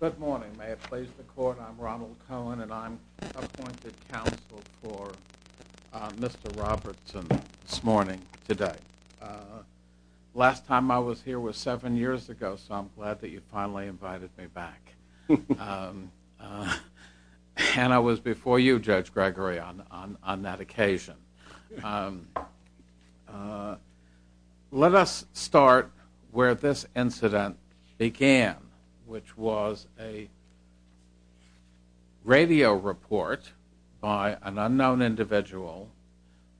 Good morning. May it please the court, I'm Ronald Cohen and I'm appointed counsel for Mr. Robertson this morning, today. Last time I was here was seven years ago, so I'm glad that you finally invited me back. And I was before you, Judge Gregory, on that occasion. Let us start where this incident began, which was a radio report by an unknown individual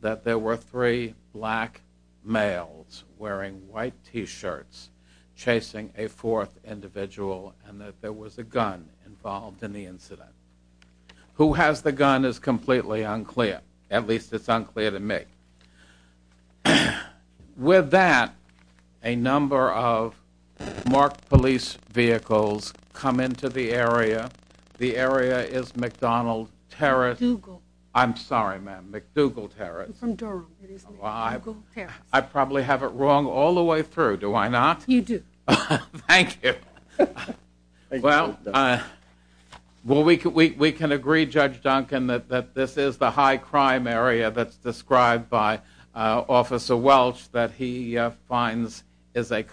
that there were three black males wearing white t-shirts chasing a fourth individual, and that there was a gun involved in the incident. Who has the gun is completely unclear, at least it's unclear to me. With that, a number of marked police vehicles come into the area. The area is McDonald Terrace. I'm sorry ma'am, McDougal Terrace. I probably have it wrong all the way through, do I not? You do. Thank you. Well, we can agree, Judge Duncan, that this is the high crime area that's described by Officer Welch, that he finds is a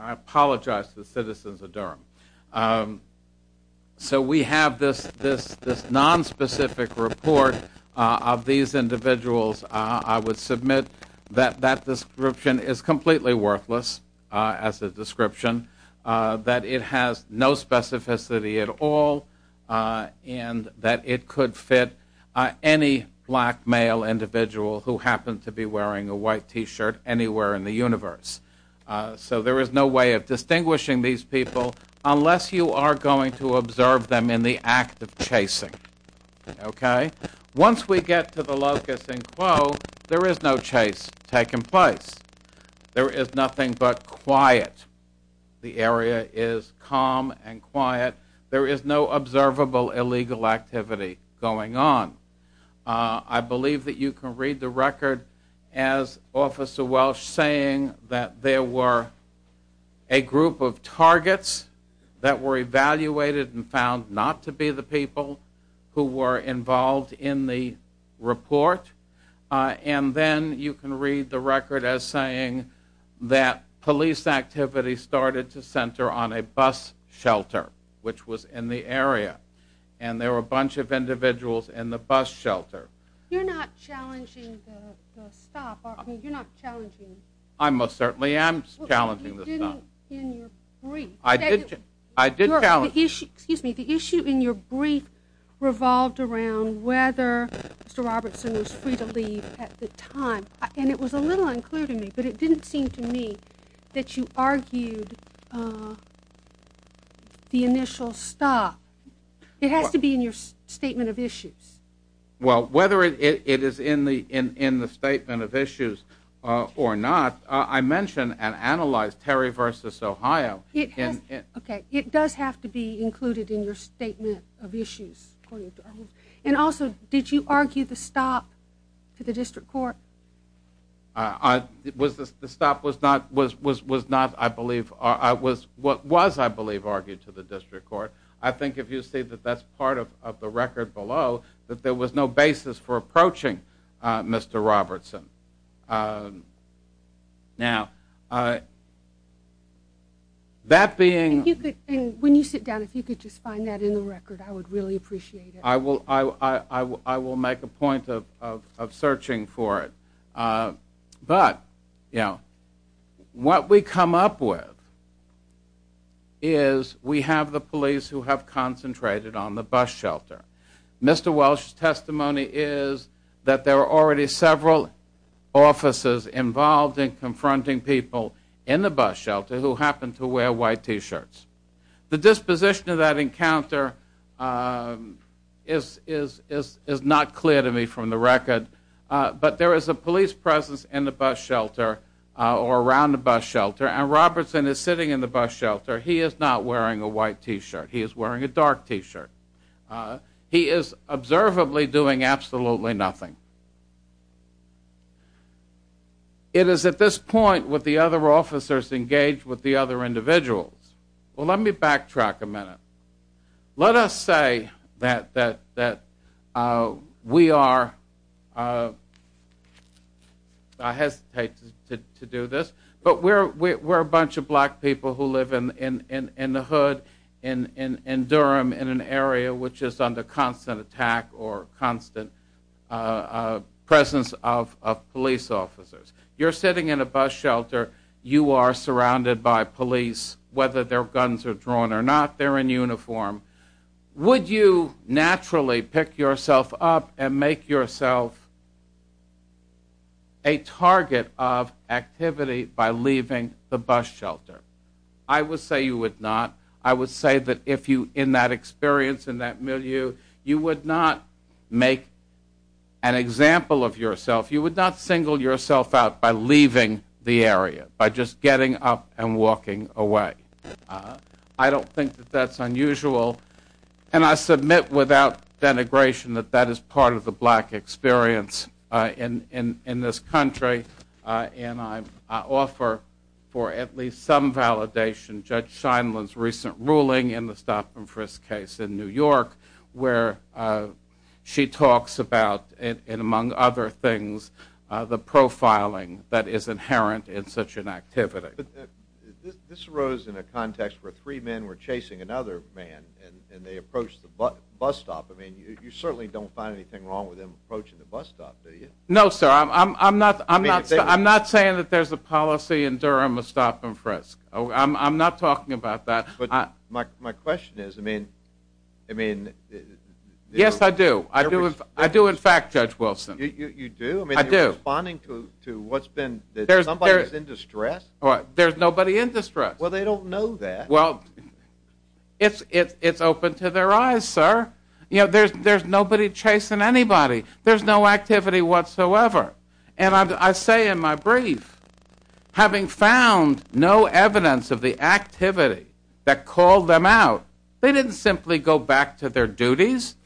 I apologize to the citizens of Durham. So we have this non-specific report of these individuals. I would submit that that description is completely worthless as a description, that it has no specificity at all, and that it could fit any black male individual who happened to be wearing a white t-shirt anywhere in the so there is no way of distinguishing these people unless you are going to observe them in the act of chasing, okay? Once we get to the locusts in Quo, there is no chase taking place. There is nothing but quiet. The area is calm and quiet. There is no observable illegal activity going on. I believe that you can the record as Officer Welch saying that there were a group of targets that were evaluated and found not to be the people who were involved in the report, and then you can read the record as saying that police activity started to center on a bus shelter, which was in the area, and there were a bunch of individuals in the bus shelter. You're not challenging the stop. You're not challenging. I most certainly am challenging the stop. You didn't in your brief. I did challenge. Excuse me, the issue in your brief revolved around whether Mr. Robertson was free to leave at the time, and it was a little unclear to me, but it didn't seem to me that you argued the initial stop. It has to be in your statement of issues. Well, whether it is in the statement of issues or not, I mentioned and analyzed Terry v. Ohio. Okay, it does have to be included in your statement of issues. And also, did you argue the stop to the District Court? The stop was not, I believe, what was, I believe, to the District Court. I think if you see that that's part of the record below, that there was no basis for approaching Mr. Robertson. Now, that being... When you sit down, if you could just find that in the record, I would really appreciate it. I will make a point of searching for it, but, you know, what we come up with is we have the police who have concentrated on the bus shelter. Mr. Welsh's testimony is that there are already several officers involved in confronting people in the bus shelter who happen to wear white t-shirts. The disposition of that encounter is not clear to me from the record, but there is a police presence in the bus shelter, or around the bus shelter, and Robertson is sitting in the bus shelter. He is not wearing a white t-shirt. He is wearing a dark t-shirt. He is observably doing absolutely nothing. It is at this point with the other officers engaged with the other individuals. Well, let me backtrack a minute. Let us say that we are, I hesitate to do this, but we're a bunch of black people who live in the hood, in Durham, in an area which is under constant attack or constant presence of police officers. You're sitting in a bus shelter. You are surrounded by police, whether their guns are drawn or not. They're in uniform. Would you naturally pick yourself up and make yourself a shelter? I would say you would not. I would say that if you, in that experience, in that milieu, you would not make an example of yourself. You would not single yourself out by leaving the area, by just getting up and walking away. I don't think that that's unusual, and I submit without denigration that that is part of the black experience in this country, and I offer for at least some validation Judge Scheindlin's recent ruling in the Stop and Frisk case in New York, where she talks about, and among other things, the profiling that is inherent in such an activity. This arose in a context where three men were chasing another man, and they No, sir. I'm not saying that there's a policy in Durham of Stop and Frisk. I'm not talking about that. But my question is, I mean... Yes, I do. I do, in fact, Judge Wilson. You do? I mean, you're responding to what's been... that somebody's in distress? There's nobody in distress. Well, they don't know that. Well, it's open to their eyes, sir. You know, there's nobody chasing anybody. There's no activity whatsoever, and I say in my brief, having found no evidence of the activity that called them out, they didn't simply go back to their duties.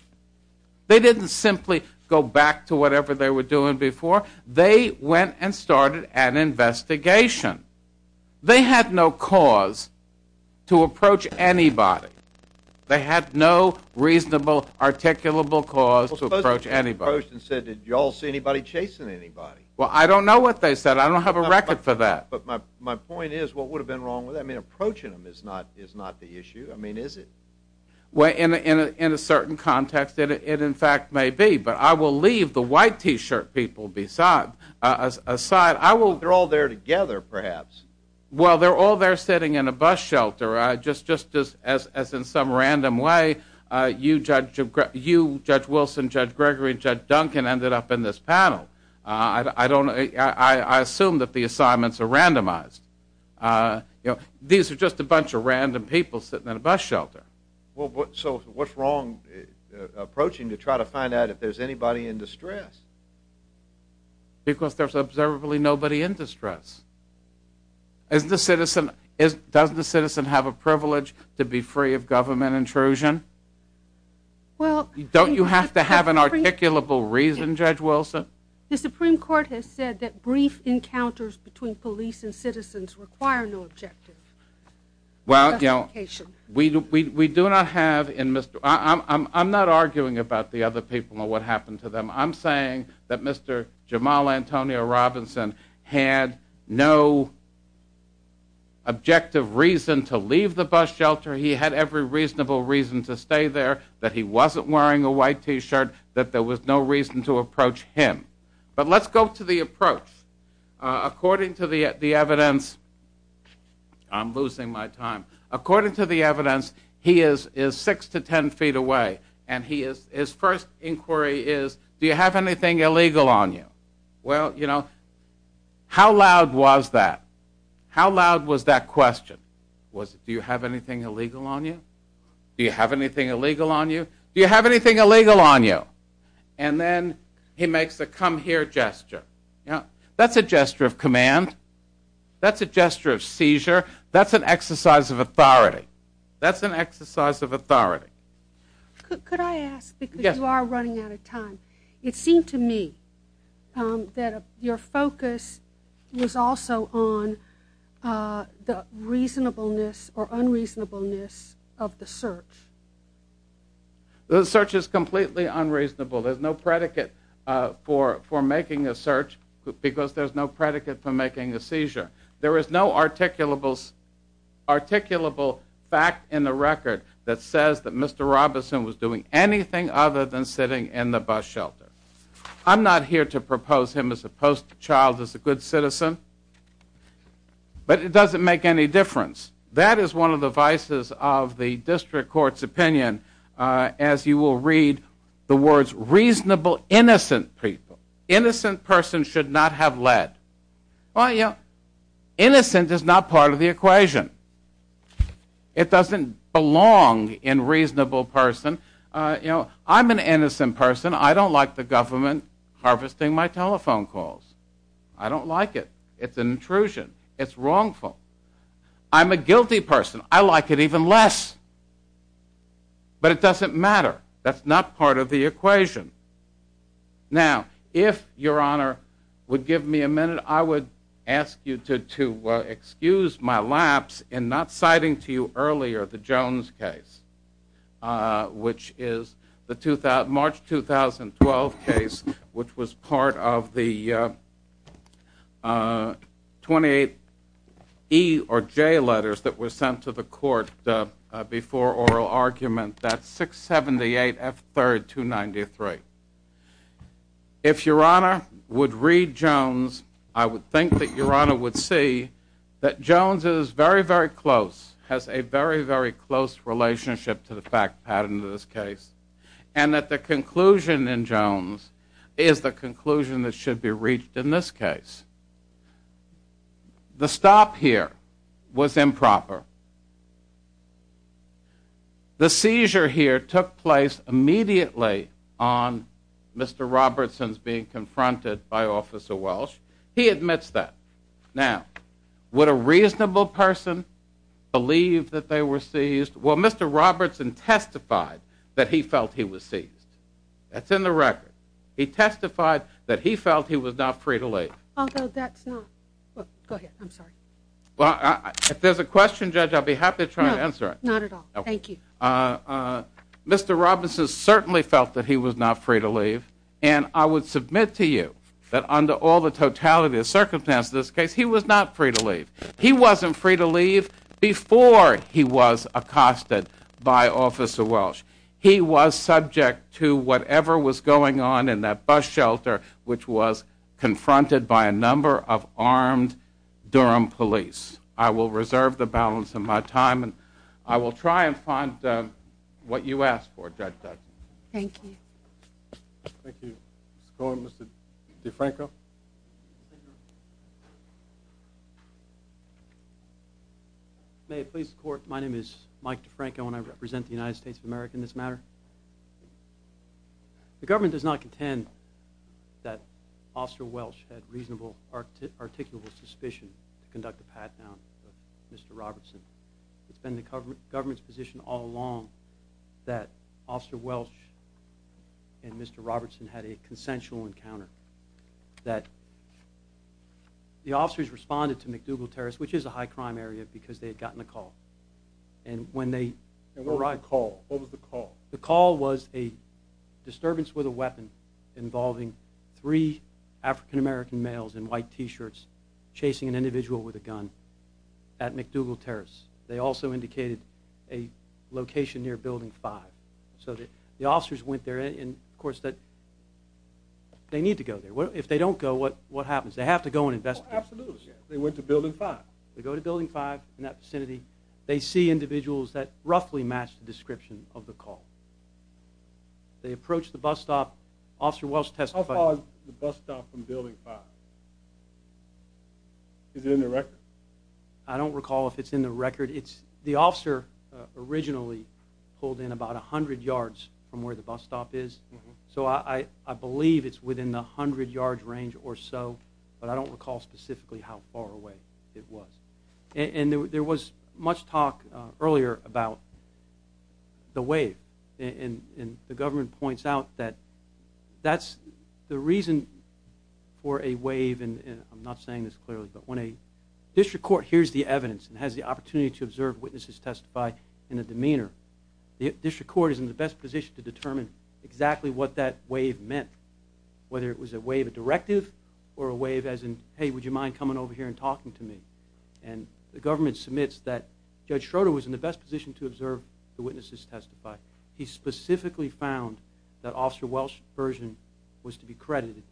They didn't simply go back to whatever they were doing before. They went and started an investigation. They had no cause to approach anybody. Well, I don't know what they said. I don't have a record for that. But my point is, what would have been wrong with that? I mean, approaching them is not the issue. I mean, is it? Well, in a certain context, it in fact may be, but I will leave the white t-shirt people aside. They're all there together, perhaps. Well, they're all there sitting in a bus shelter, just as in some random way, you, Judge Wilson, Judge Gregory, Judge Duncan ended up in this panel. I assume that the assignments are randomized. You know, these are just a bunch of random people sitting in a bus shelter. Well, so what's wrong approaching to try to find out if there's anybody in distress? Because there's observably nobody in distress. Does the citizen have a privilege to be free of government intrusion? Well, don't you have to have an articulable reason, Judge Wilson? The Supreme Court has said that brief encounters between police and citizens require no objective. Well, you know, we do not have, I'm not arguing about the other people or what happened to them. I'm saying that Mr. Jamal Antonio Robinson had no objective reason to leave the bus shelter. He had every reasonable reason to stay there, that he wasn't wearing a white t-shirt, that there was no reason to approach him. But let's go to the approach. According to the evidence, I'm losing my time. According to the evidence, he is six to ten feet away and his first inquiry is, do you have anything illegal on you? Well, you know, how loud was that? How loud was that question? Was it, do you have anything illegal on you? Do you have anything illegal on you? Do you have anything illegal on you? And then he makes a come here gesture. Yeah, that's a gesture of command. That's a gesture of seizure. That's an exercise of authority. That's an exercise of authority. Could I ask, because you are running out of time, it seemed to me that your focus was also on the reasonableness or unreasonableness of the search. The search is completely unreasonable. There's no predicate for for making a search because there's no predicate for making a seizure. There is no articulables, articulable fact in the record that says that Mr. Robinson was doing anything other than sitting in the bus shelter. I'm not here to propose him as a post child, as a good citizen, but it doesn't make any difference. That is one of the vices of the district court's opinion, as you will read the words reasonable innocent people. Innocent person should not have led. Well, you know, innocent is not part of the equation. It doesn't belong in reasonable person. You know, I'm an innocent person. I don't like the government harvesting my telephone calls. I don't like it. It's an intrusion. It's wrongful. I'm a guilty person. I like it even less. But it doesn't matter. That's not part of the equation. Now, if your honor would give me a minute, I would ask you to excuse my lapse in not citing to you earlier the Jones case, which is the March 2012 case, which was part of the 28 E or J letters that were sent to the court before oral argument that 678 F 3rd 293. If your honor would read Jones, I would think that your honor would see that Jones is very, very close, has a very, very close relationship to fact pattern in this case, and that the conclusion in Jones is the conclusion that should be reached in this case. The stop here was improper. The seizure here took place immediately on Mr. Robertson's being confronted by Officer Welsh. He admits that. Now, would a reasonable person believe that they were testified that he felt he was seized? That's in the record. He testified that he felt he was not free to leave. Although that's not. I'm sorry. Well, if there's a question, Judge, I'll be happy to try and answer it. Not at all. Thank you. Uh, Mr. Robinson certainly felt that he was not free to leave. And I would submit to you that under all the totality of circumstance this case, he was not free to leave. He wasn't free to leave before he was accosted by Officer Welsh. He was subject to whatever was going on in that bus shelter, which was confronted by a number of armed Durham police. I will reserve the balance of my time, and I will try and find what you asked for, Judge Judson. Thank you. Thank you. Mr. Cohen, Mr. DeFranco. May it please the Court, my name is Mike DeFranco, and I represent the United States of America in this matter. The government does not contend that Officer Welsh had reasonable or articulable suspicion to conduct a pat-down of Mr. Robertson. It's been the government's position all along that Officer Robertson had a consensual encounter. That the officers responded to McDougal Terrace, which is a high crime area, because they had gotten a call. And when they... And what was the call? What was the call? The call was a disturbance with a weapon involving three African-American males in white t-shirts chasing an individual with a gun at McDougal Terrace. They also indicated a location near Building 5. So that the officers went there, and of course that they need to go there. Well, if they don't go, what what happens? They have to go and investigate. Absolutely. They went to Building 5. They go to Building 5 in that vicinity. They see individuals that roughly match the description of the call. They approach the bus stop. Officer Welsh testified. How far is the bus stop from Building 5? Is it in the record? I don't recall if it's in the record. It's... The pulled in about a hundred yards from where the bus stop is. So I believe it's within the hundred yard range or so. But I don't recall specifically how far away it was. And there was much talk earlier about the wave. And the government points out that that's the reason for a wave. And I'm not saying this clearly, but when a district court hears the evidence and has the opportunity to observe witnesses testify in a demeanor, the district court is in the best position to determine exactly what that wave meant. Whether it was a wave of directive or a wave as in, hey would you mind coming over here and talking to me? And the government submits that Judge Schroeder was in the best position to observe the witnesses testify. He specifically found that Officer Welsh's version was to be credited,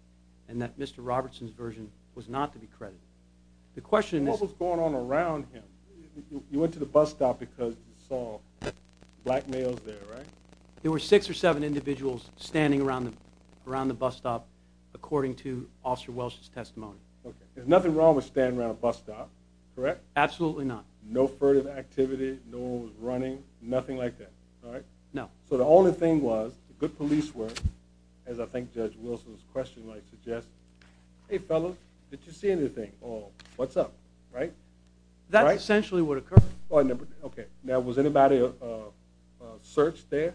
and that Mr. Robertson's version was not to be because you saw black males there, right? There were six or seven individuals standing around them around the bus stop according to Officer Welsh's testimony. Okay. There's nothing wrong with standing around a bus stop, correct? Absolutely not. No furtive activity, no one was running, nothing like that, all right? No. So the only thing was good police work, as I think Judge Wilson's question might suggest. Hey fellas, did you see anything or what's up, right? That's essentially what occurred. Okay, now was anybody searched there?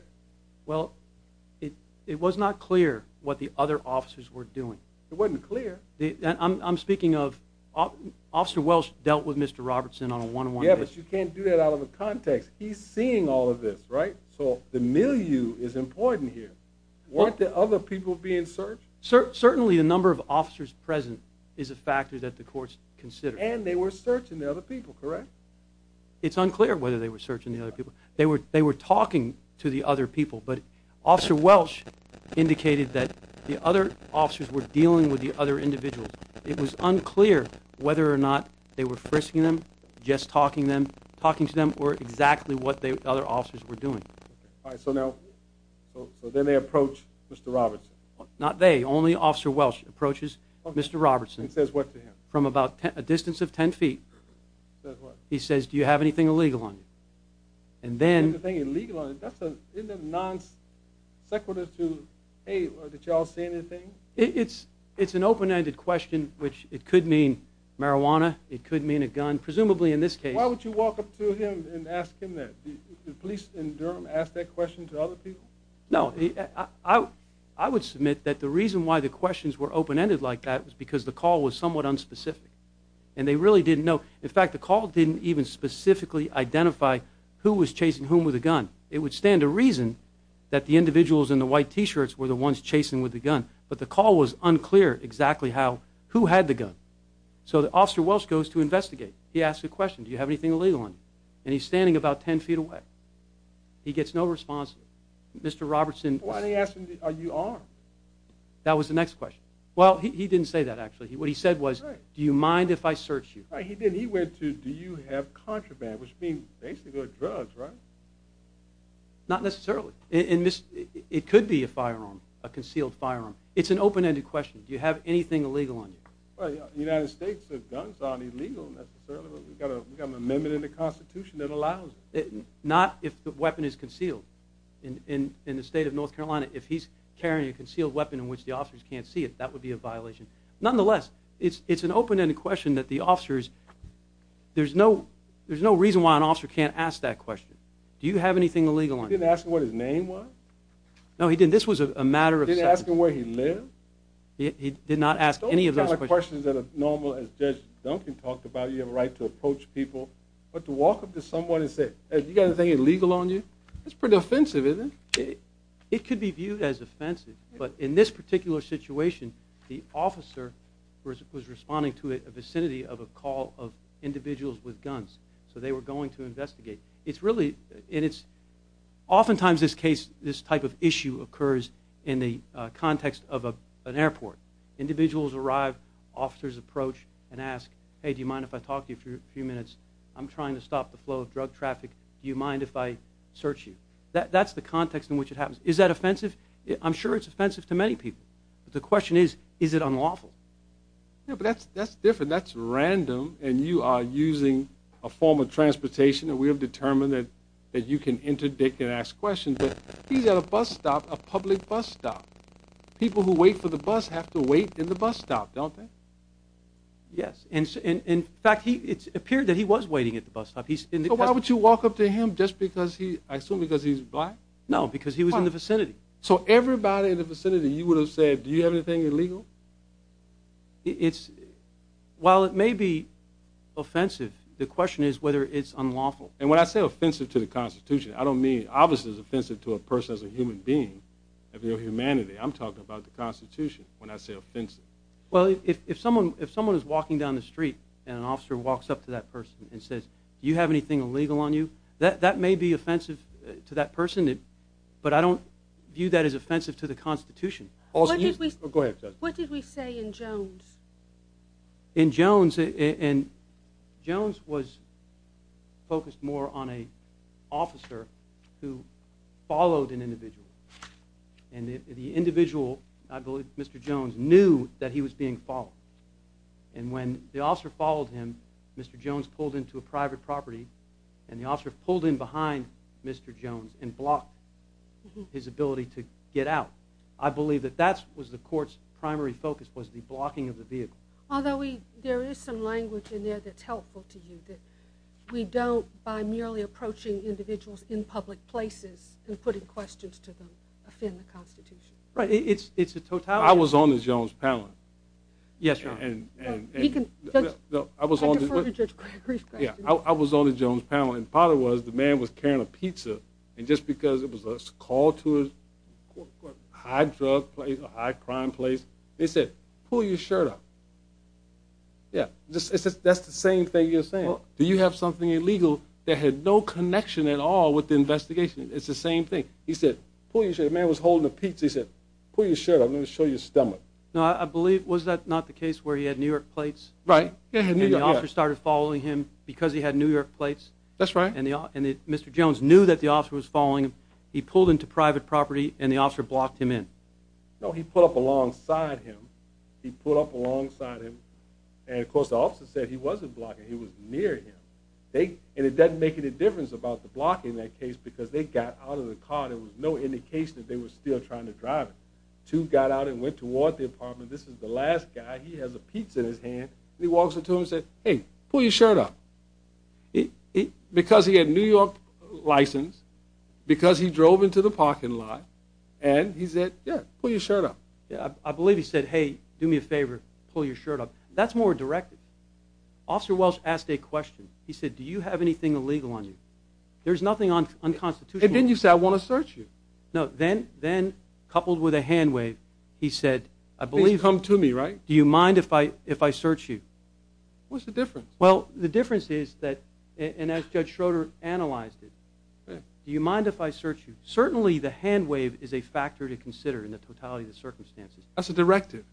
Well, it was not clear what the other officers were doing. It wasn't clear. I'm speaking of Officer Welsh dealt with Mr. Robertson on a one-on-one basis. Yeah, but you can't do that out of the context. He's seeing all of this, right? So the milieu is important here. Weren't there other people being searched? Certainly the number of officers present is a factor that the courts considered. And they were searching the other people, correct? It's unclear whether they were searching the other people. They were talking to the other people, but Officer Welsh indicated that the other officers were dealing with the other individuals. It was unclear whether or not they were frisking them, just talking to them, or exactly what the other officers were doing. All right, so then they approach Mr. Robertson. Not they, only Officer Welsh approaches Mr. Robertson. And says what to him? From about a distance of 10 feet. He says, do you have anything illegal on you? And then... Anything illegal on you? Isn't that non-sequitur to, hey, did y'all say anything? It's an open-ended question, which it could mean marijuana, it could mean a gun. Presumably in this case... Why would you walk up to him and ask him that? Did the police in Durham ask that question to other people? No, I would submit that the reason why the questions were open-ended like that was because the call was somewhat unspecific, and they really didn't know. In fact, the call didn't even specifically identify who was chasing whom with a gun. It would stand to reason that the individuals in the white t-shirts were the ones chasing with the gun, but the call was unclear exactly how, who had the gun. So the Officer Welsh goes to investigate. He asks a question, do you have anything illegal on you? And he's standing about 10 feet away. He gets no response. Mr. Robertson... Why didn't he ask him, are you armed? That was the next question. Well, he didn't say that, actually. What he said was, do you mind if I search you? He didn't. He went to, do you have contraband, which means basically drugs, right? Not necessarily. It could be a firearm, a concealed firearm. It's an open-ended question. Do you have anything illegal on you? The United States, guns aren't illegal, necessarily. We've got an amendment in the Constitution that allows it. Not if the weapon is concealed. In the state of North Carolina, if he's carrying a concealed weapon in which the officers can't see it, that would be a violation Nonetheless, it's an open-ended question that the officers, there's no reason why an officer can't ask that question. Do you have anything illegal on you? He didn't ask him what his name was? No, he didn't. This was a matter of... He didn't ask him where he lived? He did not ask any of those questions. Those are the kind of questions that are normal, as Judge Duncan talked about, you have a right to approach people. But to walk up to someone and say, have you got anything illegal on you? That's pretty offensive, isn't it? It could be viewed as an officer was responding to a vicinity of a call of individuals with guns. So they were going to investigate. It's really, and it's, often times this case, this type of issue occurs in the context of an airport. Individuals arrive, officers approach and ask, hey, do you mind if I talk to you for a few minutes? I'm trying to stop the flow of drug traffic. Do you mind if I search you? That's the context in which it happens. Is that offensive? I'm sure it's offensive to many people. The question is, is it unlawful? Yeah, but that's different. That's random and you are using a form of transportation and we have determined that you can interdict and ask questions. But he's at a bus stop, a public bus stop. People who wait for the bus have to wait in the bus stop, don't they? Yes. In fact, it appeared that he was waiting at the bus stop. So why would you walk up to him just because he, I assume because he's black? No, because he was in the vicinity. So everybody in the vicinity, you would have said, do you have anything illegal? It's, while it may be offensive, the question is whether it's unlawful. And when I say offensive to the Constitution, I don't mean, obviously it's offensive to a person as a human being, of your humanity. I'm talking about the Constitution when I say offensive. Well, if someone is walking down the street and an officer walks up to that person and says, do you have anything illegal on you? That may be offensive to that person, but I don't view that as offensive to the Constitution. What did we say in Jones? In Jones, Jones was focused more on an officer who followed an individual. And the individual, I believe Mr. Jones, knew that he was being followed. And when the officer followed him, Mr. Jones pulled into a private property, and the officer pulled in behind Mr. Jones and blocked his ability to get out. I believe that that was the court's primary focus, was the blocking of the vehicle. Although there is some language in there that's helpful to you, that we don't, by merely approaching individuals in public places and putting questions to them, offend the Constitution. Right, it's a totality. I was on the Jones panel. Yes, Your Honor. I defer to Judge Gregory's question. I was on the Jones panel, and part of it was the man was carrying a pizza, and just because it was a call to a high-drug place, a high-crime place, they said, pull your shirt up. Yeah, that's the same thing you're saying. Do you have something illegal that had no connection at all with the investigation? It's the same thing. He said, pull your shirt up. The man was holding a pizza. He said, pull your shirt up. I'm going to show you your stomach. Now, I believe, was that not the case where he had New York plates? Right. And the officer started following him because he had New York plates. That's right. And Mr. Jones knew that the officer was following him. He pulled into private property, and the officer blocked him in. No, he pulled up alongside him. He pulled up alongside him. And, of course, the officer said he wasn't blocking. He was near him. And it doesn't make any difference about the blocking in that case, because they got out of the car. There was no indication that they were still trying to drive it. Two got out and went toward the apartment. This is the last guy. He has a pizza in his hand. He walks up to him and said, hey, pull your shirt up. Because he had a New York license, because he drove into the parking lot, and he said, yeah, pull your shirt up. I believe he said, hey, do me a favor, pull your shirt up. That's more directed. Officer Welsh asked a question. He said, do you have anything illegal on you? There's nothing unconstitutional. And then you said, I want to search you. No, then coupled with a hand wave, he said, I believe. Please come to me, right? Do you mind if I search you? What's the difference? Well, the difference is that, and as Judge Schroeder analyzed it, do you mind if I search you? Certainly the hand wave is a factor to consider in the totality of the circumstances. That's a directive.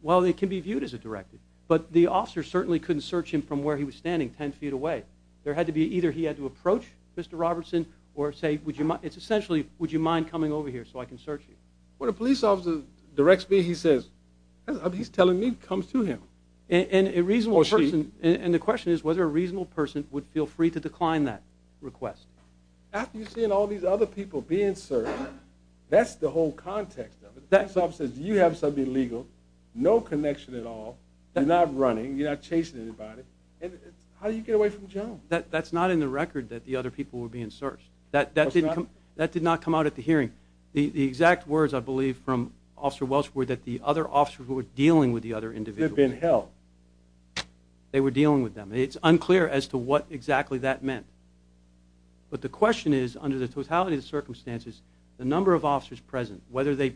Well, it can be viewed as a directive. But the officer certainly couldn't search him from where he was standing, 10 feet away. There had to be either he had to approach Mr. Robertson or say, essentially, would you mind coming over here so I can search you? Well, the police officer directs me. He says, he's telling me to come to him. And the question is whether a reasonable person would feel free to decline that request. After you've seen all these other people being searched, that's the whole context of it. The police officer says, you have something illegal, no connection at all, you're not running, you're not chasing anybody. How do you get away from Jones? That's not in the record that the other people were being searched. That did not come out at the hearing. The exact words, I believe, from Officer Welch were that the other officers were dealing with the other individuals. They've been held. They were dealing with them. It's unclear as to what exactly that meant. But the question is, under the totality of the circumstances, the number of officers present, whether they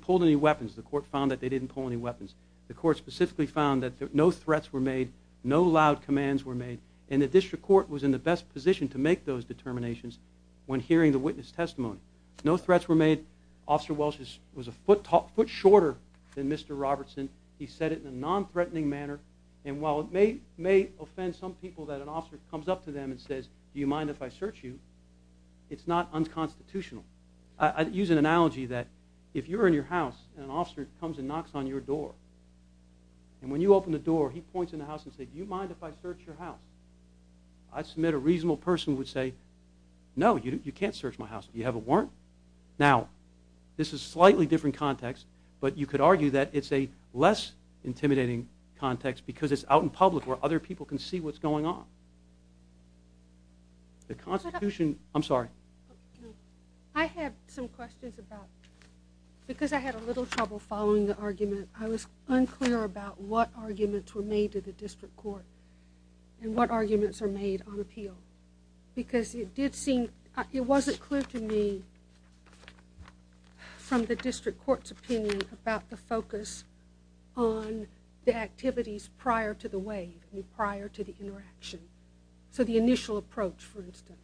pulled any weapons, the court found that they didn't pull any weapons, the court specifically found that no threats were made, no loud commands were made, and the District Court was in the best position to make those determinations when hearing the witness testimony. No threats were made. Officer Welch was a foot shorter than Mr. Robertson. He said it in a non-threatening manner. And while it may offend some people that an officer comes up to them and says, do you mind if I search you, it's not unconstitutional. I use an analogy that if you're in your house and an officer comes and knocks on your door and when you open the door, he points in the house and says, do you mind if I search your house? I submit a reasonable person would say, no, you can't search my house. You have a warrant. Now, this is a slightly different context, but you could argue that it's a less intimidating context because it's out in public where other people can see what's going on. The Constitution... I'm sorry. I have some questions about... Because I had a little trouble following the argument, I was unclear about what arguments were made to the district court and what arguments are made on appeal. Because it did seem... It wasn't clear to me from the district court's opinion about the focus on the activities prior to the waive and prior to the interaction. So the initial approach, for instance.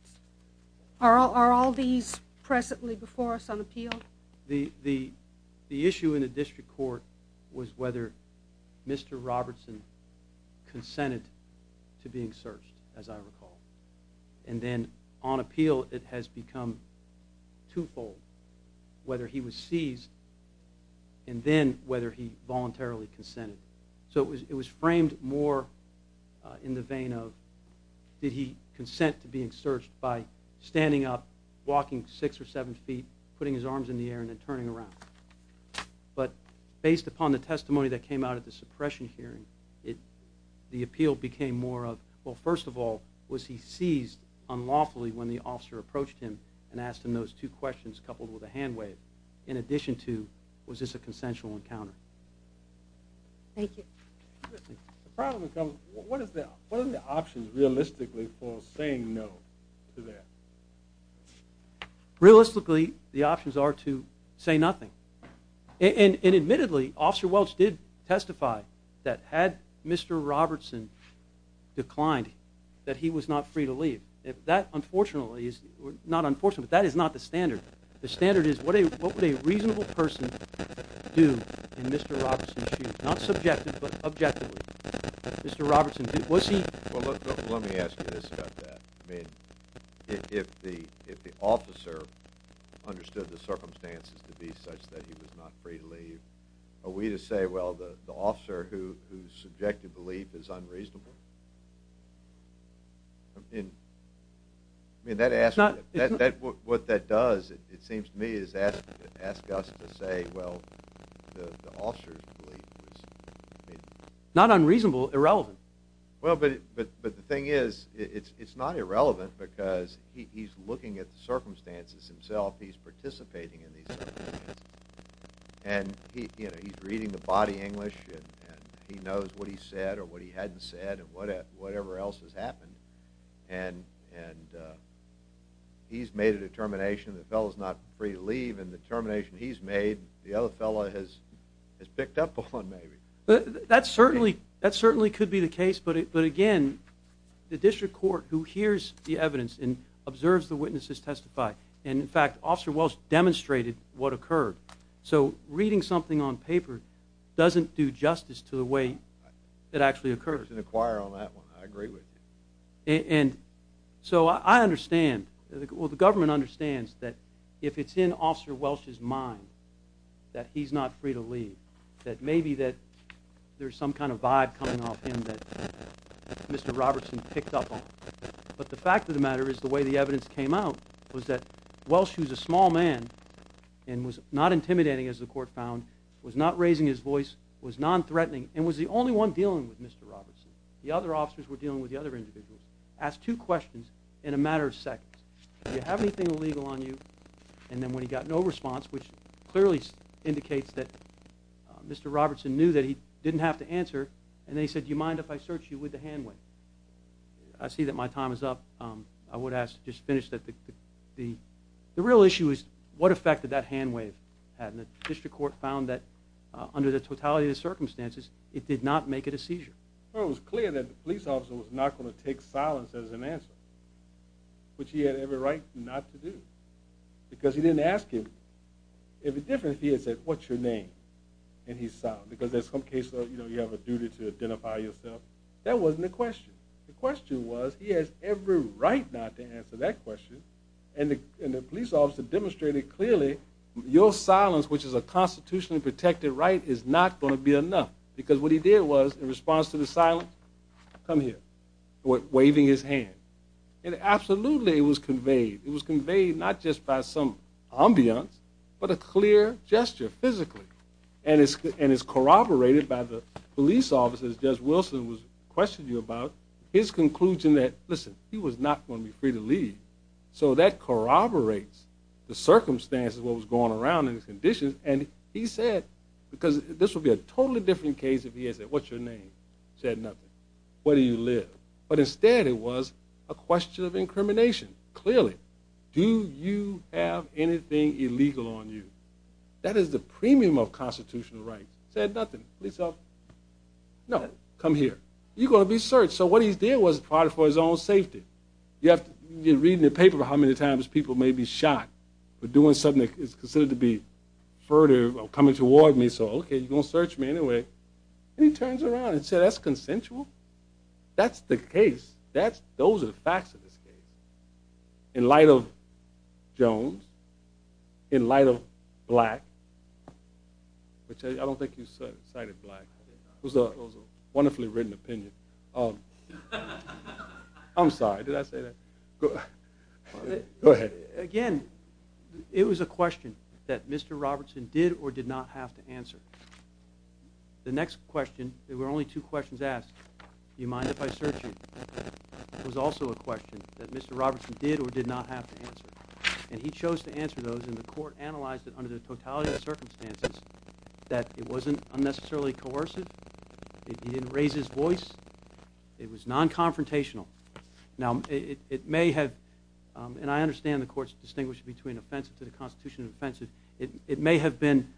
Are all these presently before us on appeal? The issue in the district court was whether Mr. Robertson consented to being searched, as I recall. And then on appeal, it has become twofold. Whether he was seized and then whether he voluntarily consented. So it was framed more in the vein of did he consent to being searched by standing up, walking six or seven feet, putting his arms in the air and then turning around. But based upon the testimony that came out at the suppression hearing, the appeal became more of well, first of all, was he seized unlawfully when the officer approached him and asked him those two questions coupled with a hand wave? In addition to, was this a consensual encounter? Thank you. The problem comes... What are the options realistically for saying no to that? Realistically, the options are to say nothing. And admittedly, Officer Welch did testify that had Mr. Robertson declined, that he was not free to leave. If that, unfortunately, not unfortunately, but that is not the standard. The standard is what would a reasonable person do in Mr. Robertson's shoes? Not subjective, but objectively. Mr. Robertson, was he... Well, let me ask you this about that. I mean, if the officer understood the circumstances to be such that he was not free to leave, are we to say, well, the officer whose subjective belief is unreasonable? I mean... I mean, that asks... What that does, it seems to me, is ask us to say, well, the officer's belief is... Not unreasonable, irrelevant. Well, but the thing is, it's not irrelevant because he's looking at the circumstances himself, he's participating in these circumstances. And he's reading the body English and he knows what he said or what he hadn't said and whatever else has happened. And... He's made a determination that the fellow's not free to leave, and the determination he's made, the other fellow has picked up on, maybe. That certainly could be the case, but again, the district court, who hears the evidence and observes the witnesses testify, and in fact, Officer Welsh demonstrated what occurred. So, reading something on paper doesn't do justice to the way it actually occurred. There's an acquirer on that one. I agree with you. And... So, I understand. Well, the government understands that if it's in Officer Welsh's mind that he's not free to leave, that maybe that there's some kind of vibe coming off him that Mr. Robertson picked up on. But the fact of the matter is the way the evidence came out was that Welsh, who's a small man and was not intimidating, as the court found, was not raising his voice, was non-threatening and was the only one dealing with Mr. Robertson. The other officers were dealing with the other individuals. Asked two questions in a matter of seconds. Do you have anything illegal on you? And then when he got no response, which clearly indicates that Mr. Robertson knew that he didn't have to answer, and then he said, do you mind if I search you with the hand wave? I see that my time is up. I would ask to just finish that the real issue is what effect did that hand wave have? And the district court found that under the totality of the circumstances it did not make it a seizure. Well, it was clear that the police officer was not going to take silence as an answer. Which he had every right not to do. Because he didn't ask him. It would be different if he had said, what's your name? And he's silent. Because in some cases you have a duty to identify yourself. That wasn't the question. The question was he has every right not to answer that question. And the police officer demonstrated clearly your silence, which is a constitutionally protected right is not going to be enough. Because what he did was in response to the silence come here. Waving his hand. And absolutely it was conveyed. It was conveyed not just by some ambience but a clear gesture physically. And it's corroborated by the police officer as Judge Wilson was questioning you about. His conclusion that listen, he was not going to be free to leave. So that corroborates the circumstances of what was going around and his conditions. And he said because this would be a totally different case if he had said what's your name? Said nothing. Where do you live? But instead it was a question of incrimination. Clearly. Do you have anything illegal on you? That is the premium of constitutional rights. Said nothing. Police officer no. Come here. You're going to be searched. So what he did was for his own safety. You have to read in the paper how many times people may be shot for doing something that is considered to be furtive or coming toward me so okay you're going to search me anyway. And he turns around and said that's consensual? That's the case. Those are the facts of this case. In light of Jones. In light of Black. I don't think you cited Black. It was a wonderfully written opinion. Um I'm sorry did I say that? Go ahead. Again it was a question that Mr. Robertson did or did not have to answer. The next question there were only two questions asked. Do you mind if I search you? It was also a question that Mr. Robertson did or did not have to answer. And he chose to answer those and the court analyzed it under the totality of circumstances that it wasn't unnecessarily coercive it didn't raise his voice it was non-confrontational. Now it may have um and I understand the courts distinguish between offensive to the constitution and offensive it may have been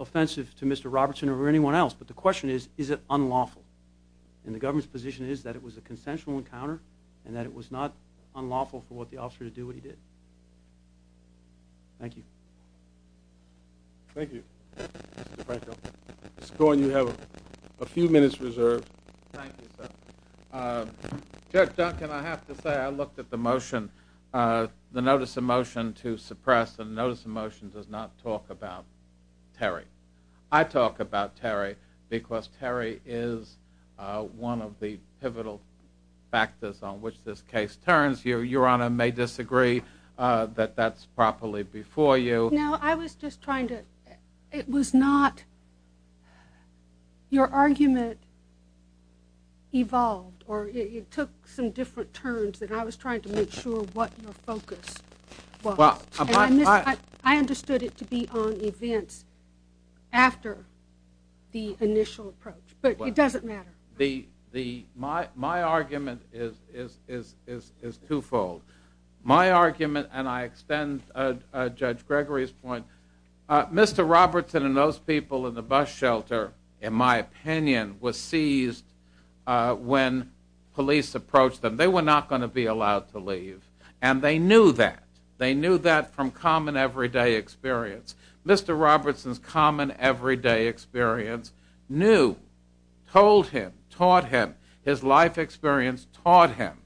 offensive to Mr. Robertson or anyone else but the question is is it unlawful? And the government's position is that it was a consensual encounter and that it was not unlawful for the officer to do what he did. Thank you. Thank you. Mr. Franco. Mr. Cohen you have a few minutes reserved. Thank you sir. Um Judge Duncan I have to say I looked at the motion uh the notice of motion to suppress the notice of motion does not talk about Terry. I talk about Terry because Terry is uh one of the pivotal factors on which this case turns. Your honor may disagree that that's properly before you. No I was just trying to it was not your argument evolved or it took some different turns that I was trying to make sure what your focus was. I understood it to be on events after the initial approach but it doesn't matter. My argument is twofold. My argument and I extend Judge Gregory's point Mr. Robertson and those people in the courtroom believe and they knew that they knew that from common everyday experience. Mr. Robertson's common everyday experience knew told him taught him his life experience taught him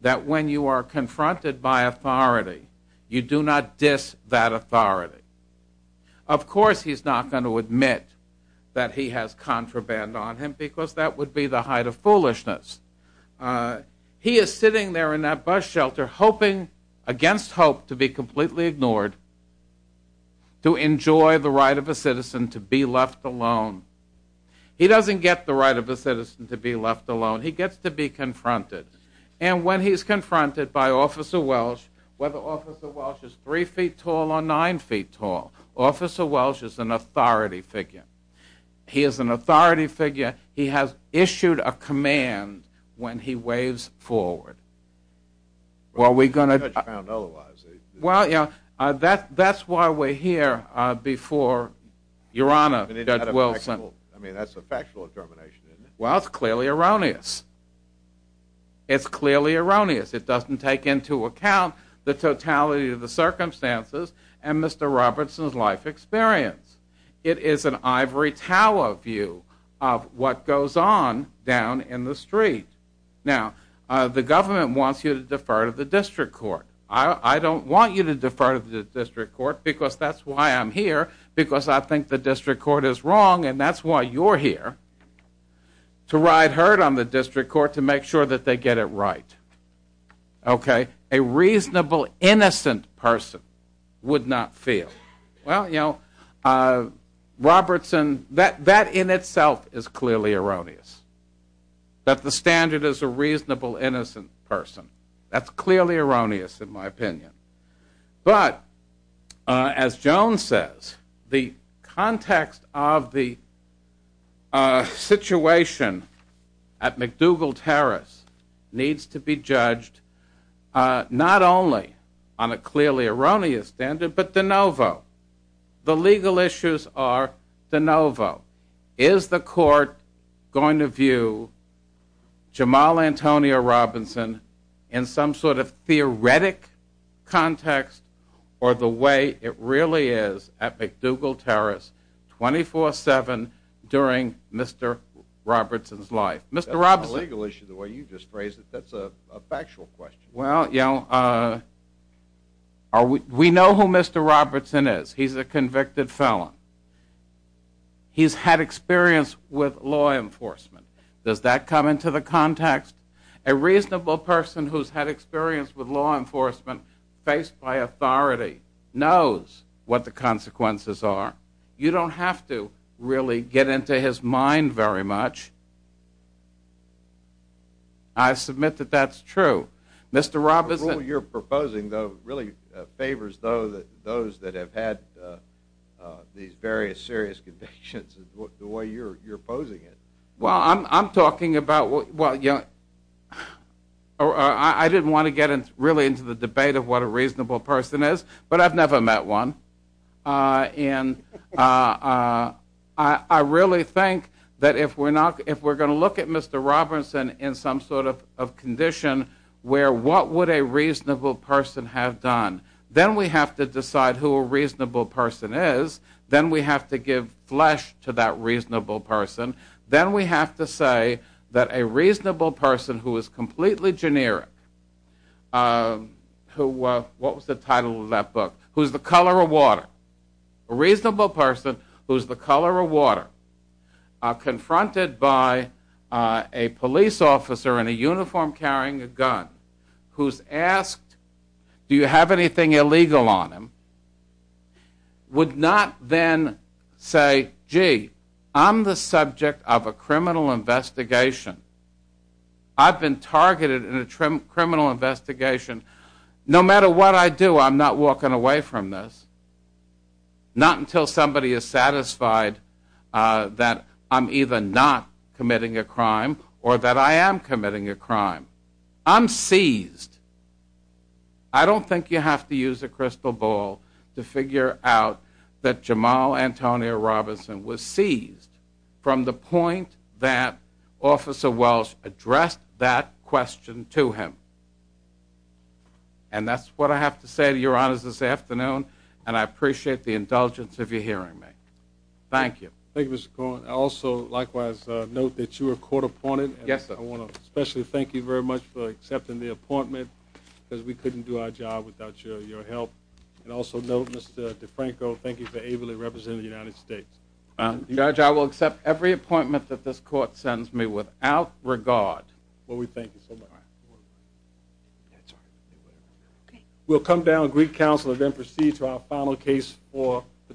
that when you are confronted by authority you do not diss that authority. Of course he's not going to admit that he has contraband on him because that would be the height of foolishness. He is sitting there in that bus shelter hoping against hope to be completely ignored to enjoy the right of a citizen to be left alone. He doesn't get the right of a citizen to be left alone. He gets to be confronted. And when he's confronted by Officer Welch whether Officer Welch is three feet tall or nine feet tall Officer Welch is an authority figure. He is an authority figure. He has issued a command when he waves forward. Well we're going to Well that's why we're here before Your Honor Judge Wilson Well it's clearly erroneous. It's clearly erroneous. It doesn't take into account the totality of the circumstances and Mr. Robertson's life experience. It is an ivory tower view of what goes on down in the street. Now the government wants you to defer to the district court. I don't want you to defer to the district court because that's why I'm here because I think that the district court is wrong and that's why you're here to ride herd on the district court to make sure that they get it right. Okay? A reasonable innocent person would not feel. Well you know Robertson that in itself is clearly erroneous. That the court alone says the context of the situation at McDougald Terrace needs to be judged not only on a clearly erroneous standard but de novo. The legal issues are de novo. Is the court going to view Jamal Antonio Robinson in some sort of theoretic context or the way it really is at McDougald Terrace 24-7 Mr. Robertson's life. Mr. Robson That's not a legal issue the way you just phrased it. That's a factual question. Well you know we know who Mr. Robertson is. He's a convicted felon. He's had experience with law enforcement. Does that come into the context? A reasonable person who's had experience with law enforcement faced by authority knows what the consequences are. You don't have to really get into his mind very much. I didn't want to get into the debate of what a reasonable person is but I've never met one. I really think that if we're going to look at Mr. Robertson in some sort of condition where what would a reasonable person have done then we have to look at who a reasonable person is then we have to give flesh to that reasonable person then we have to say that a reasonable person who is completely generic who what was the title of that book who's the color of water a reasonable person who's the color of water would not then say gee I'm the subject of a criminal investigation I've been targeted in a criminal investigation no matter what I do I'm not walking away from this not until somebody is satisfied that I'm either not committing a crime or that I am committing a crime I'm seized I don't think you have to use a crystal ball to figure out that Jamal Antonio Robinson was seized from the point that officer Welsh addressed that question to him and that's what I have to say to your honors this afternoon and I appreciate the indulgence of you hearing me thank you thank you Mr. Cohen also likewise note that you were court appointed yes sir I want to especially thank you very much for accepting the appointment because we couldn't do our job without your help and also note Mr. DeFranco thank you for ably representing the United States I will accept every appointment that this court sends me without regard well we thank you so much we'll come down Greek Council and then proceed to our final case for the term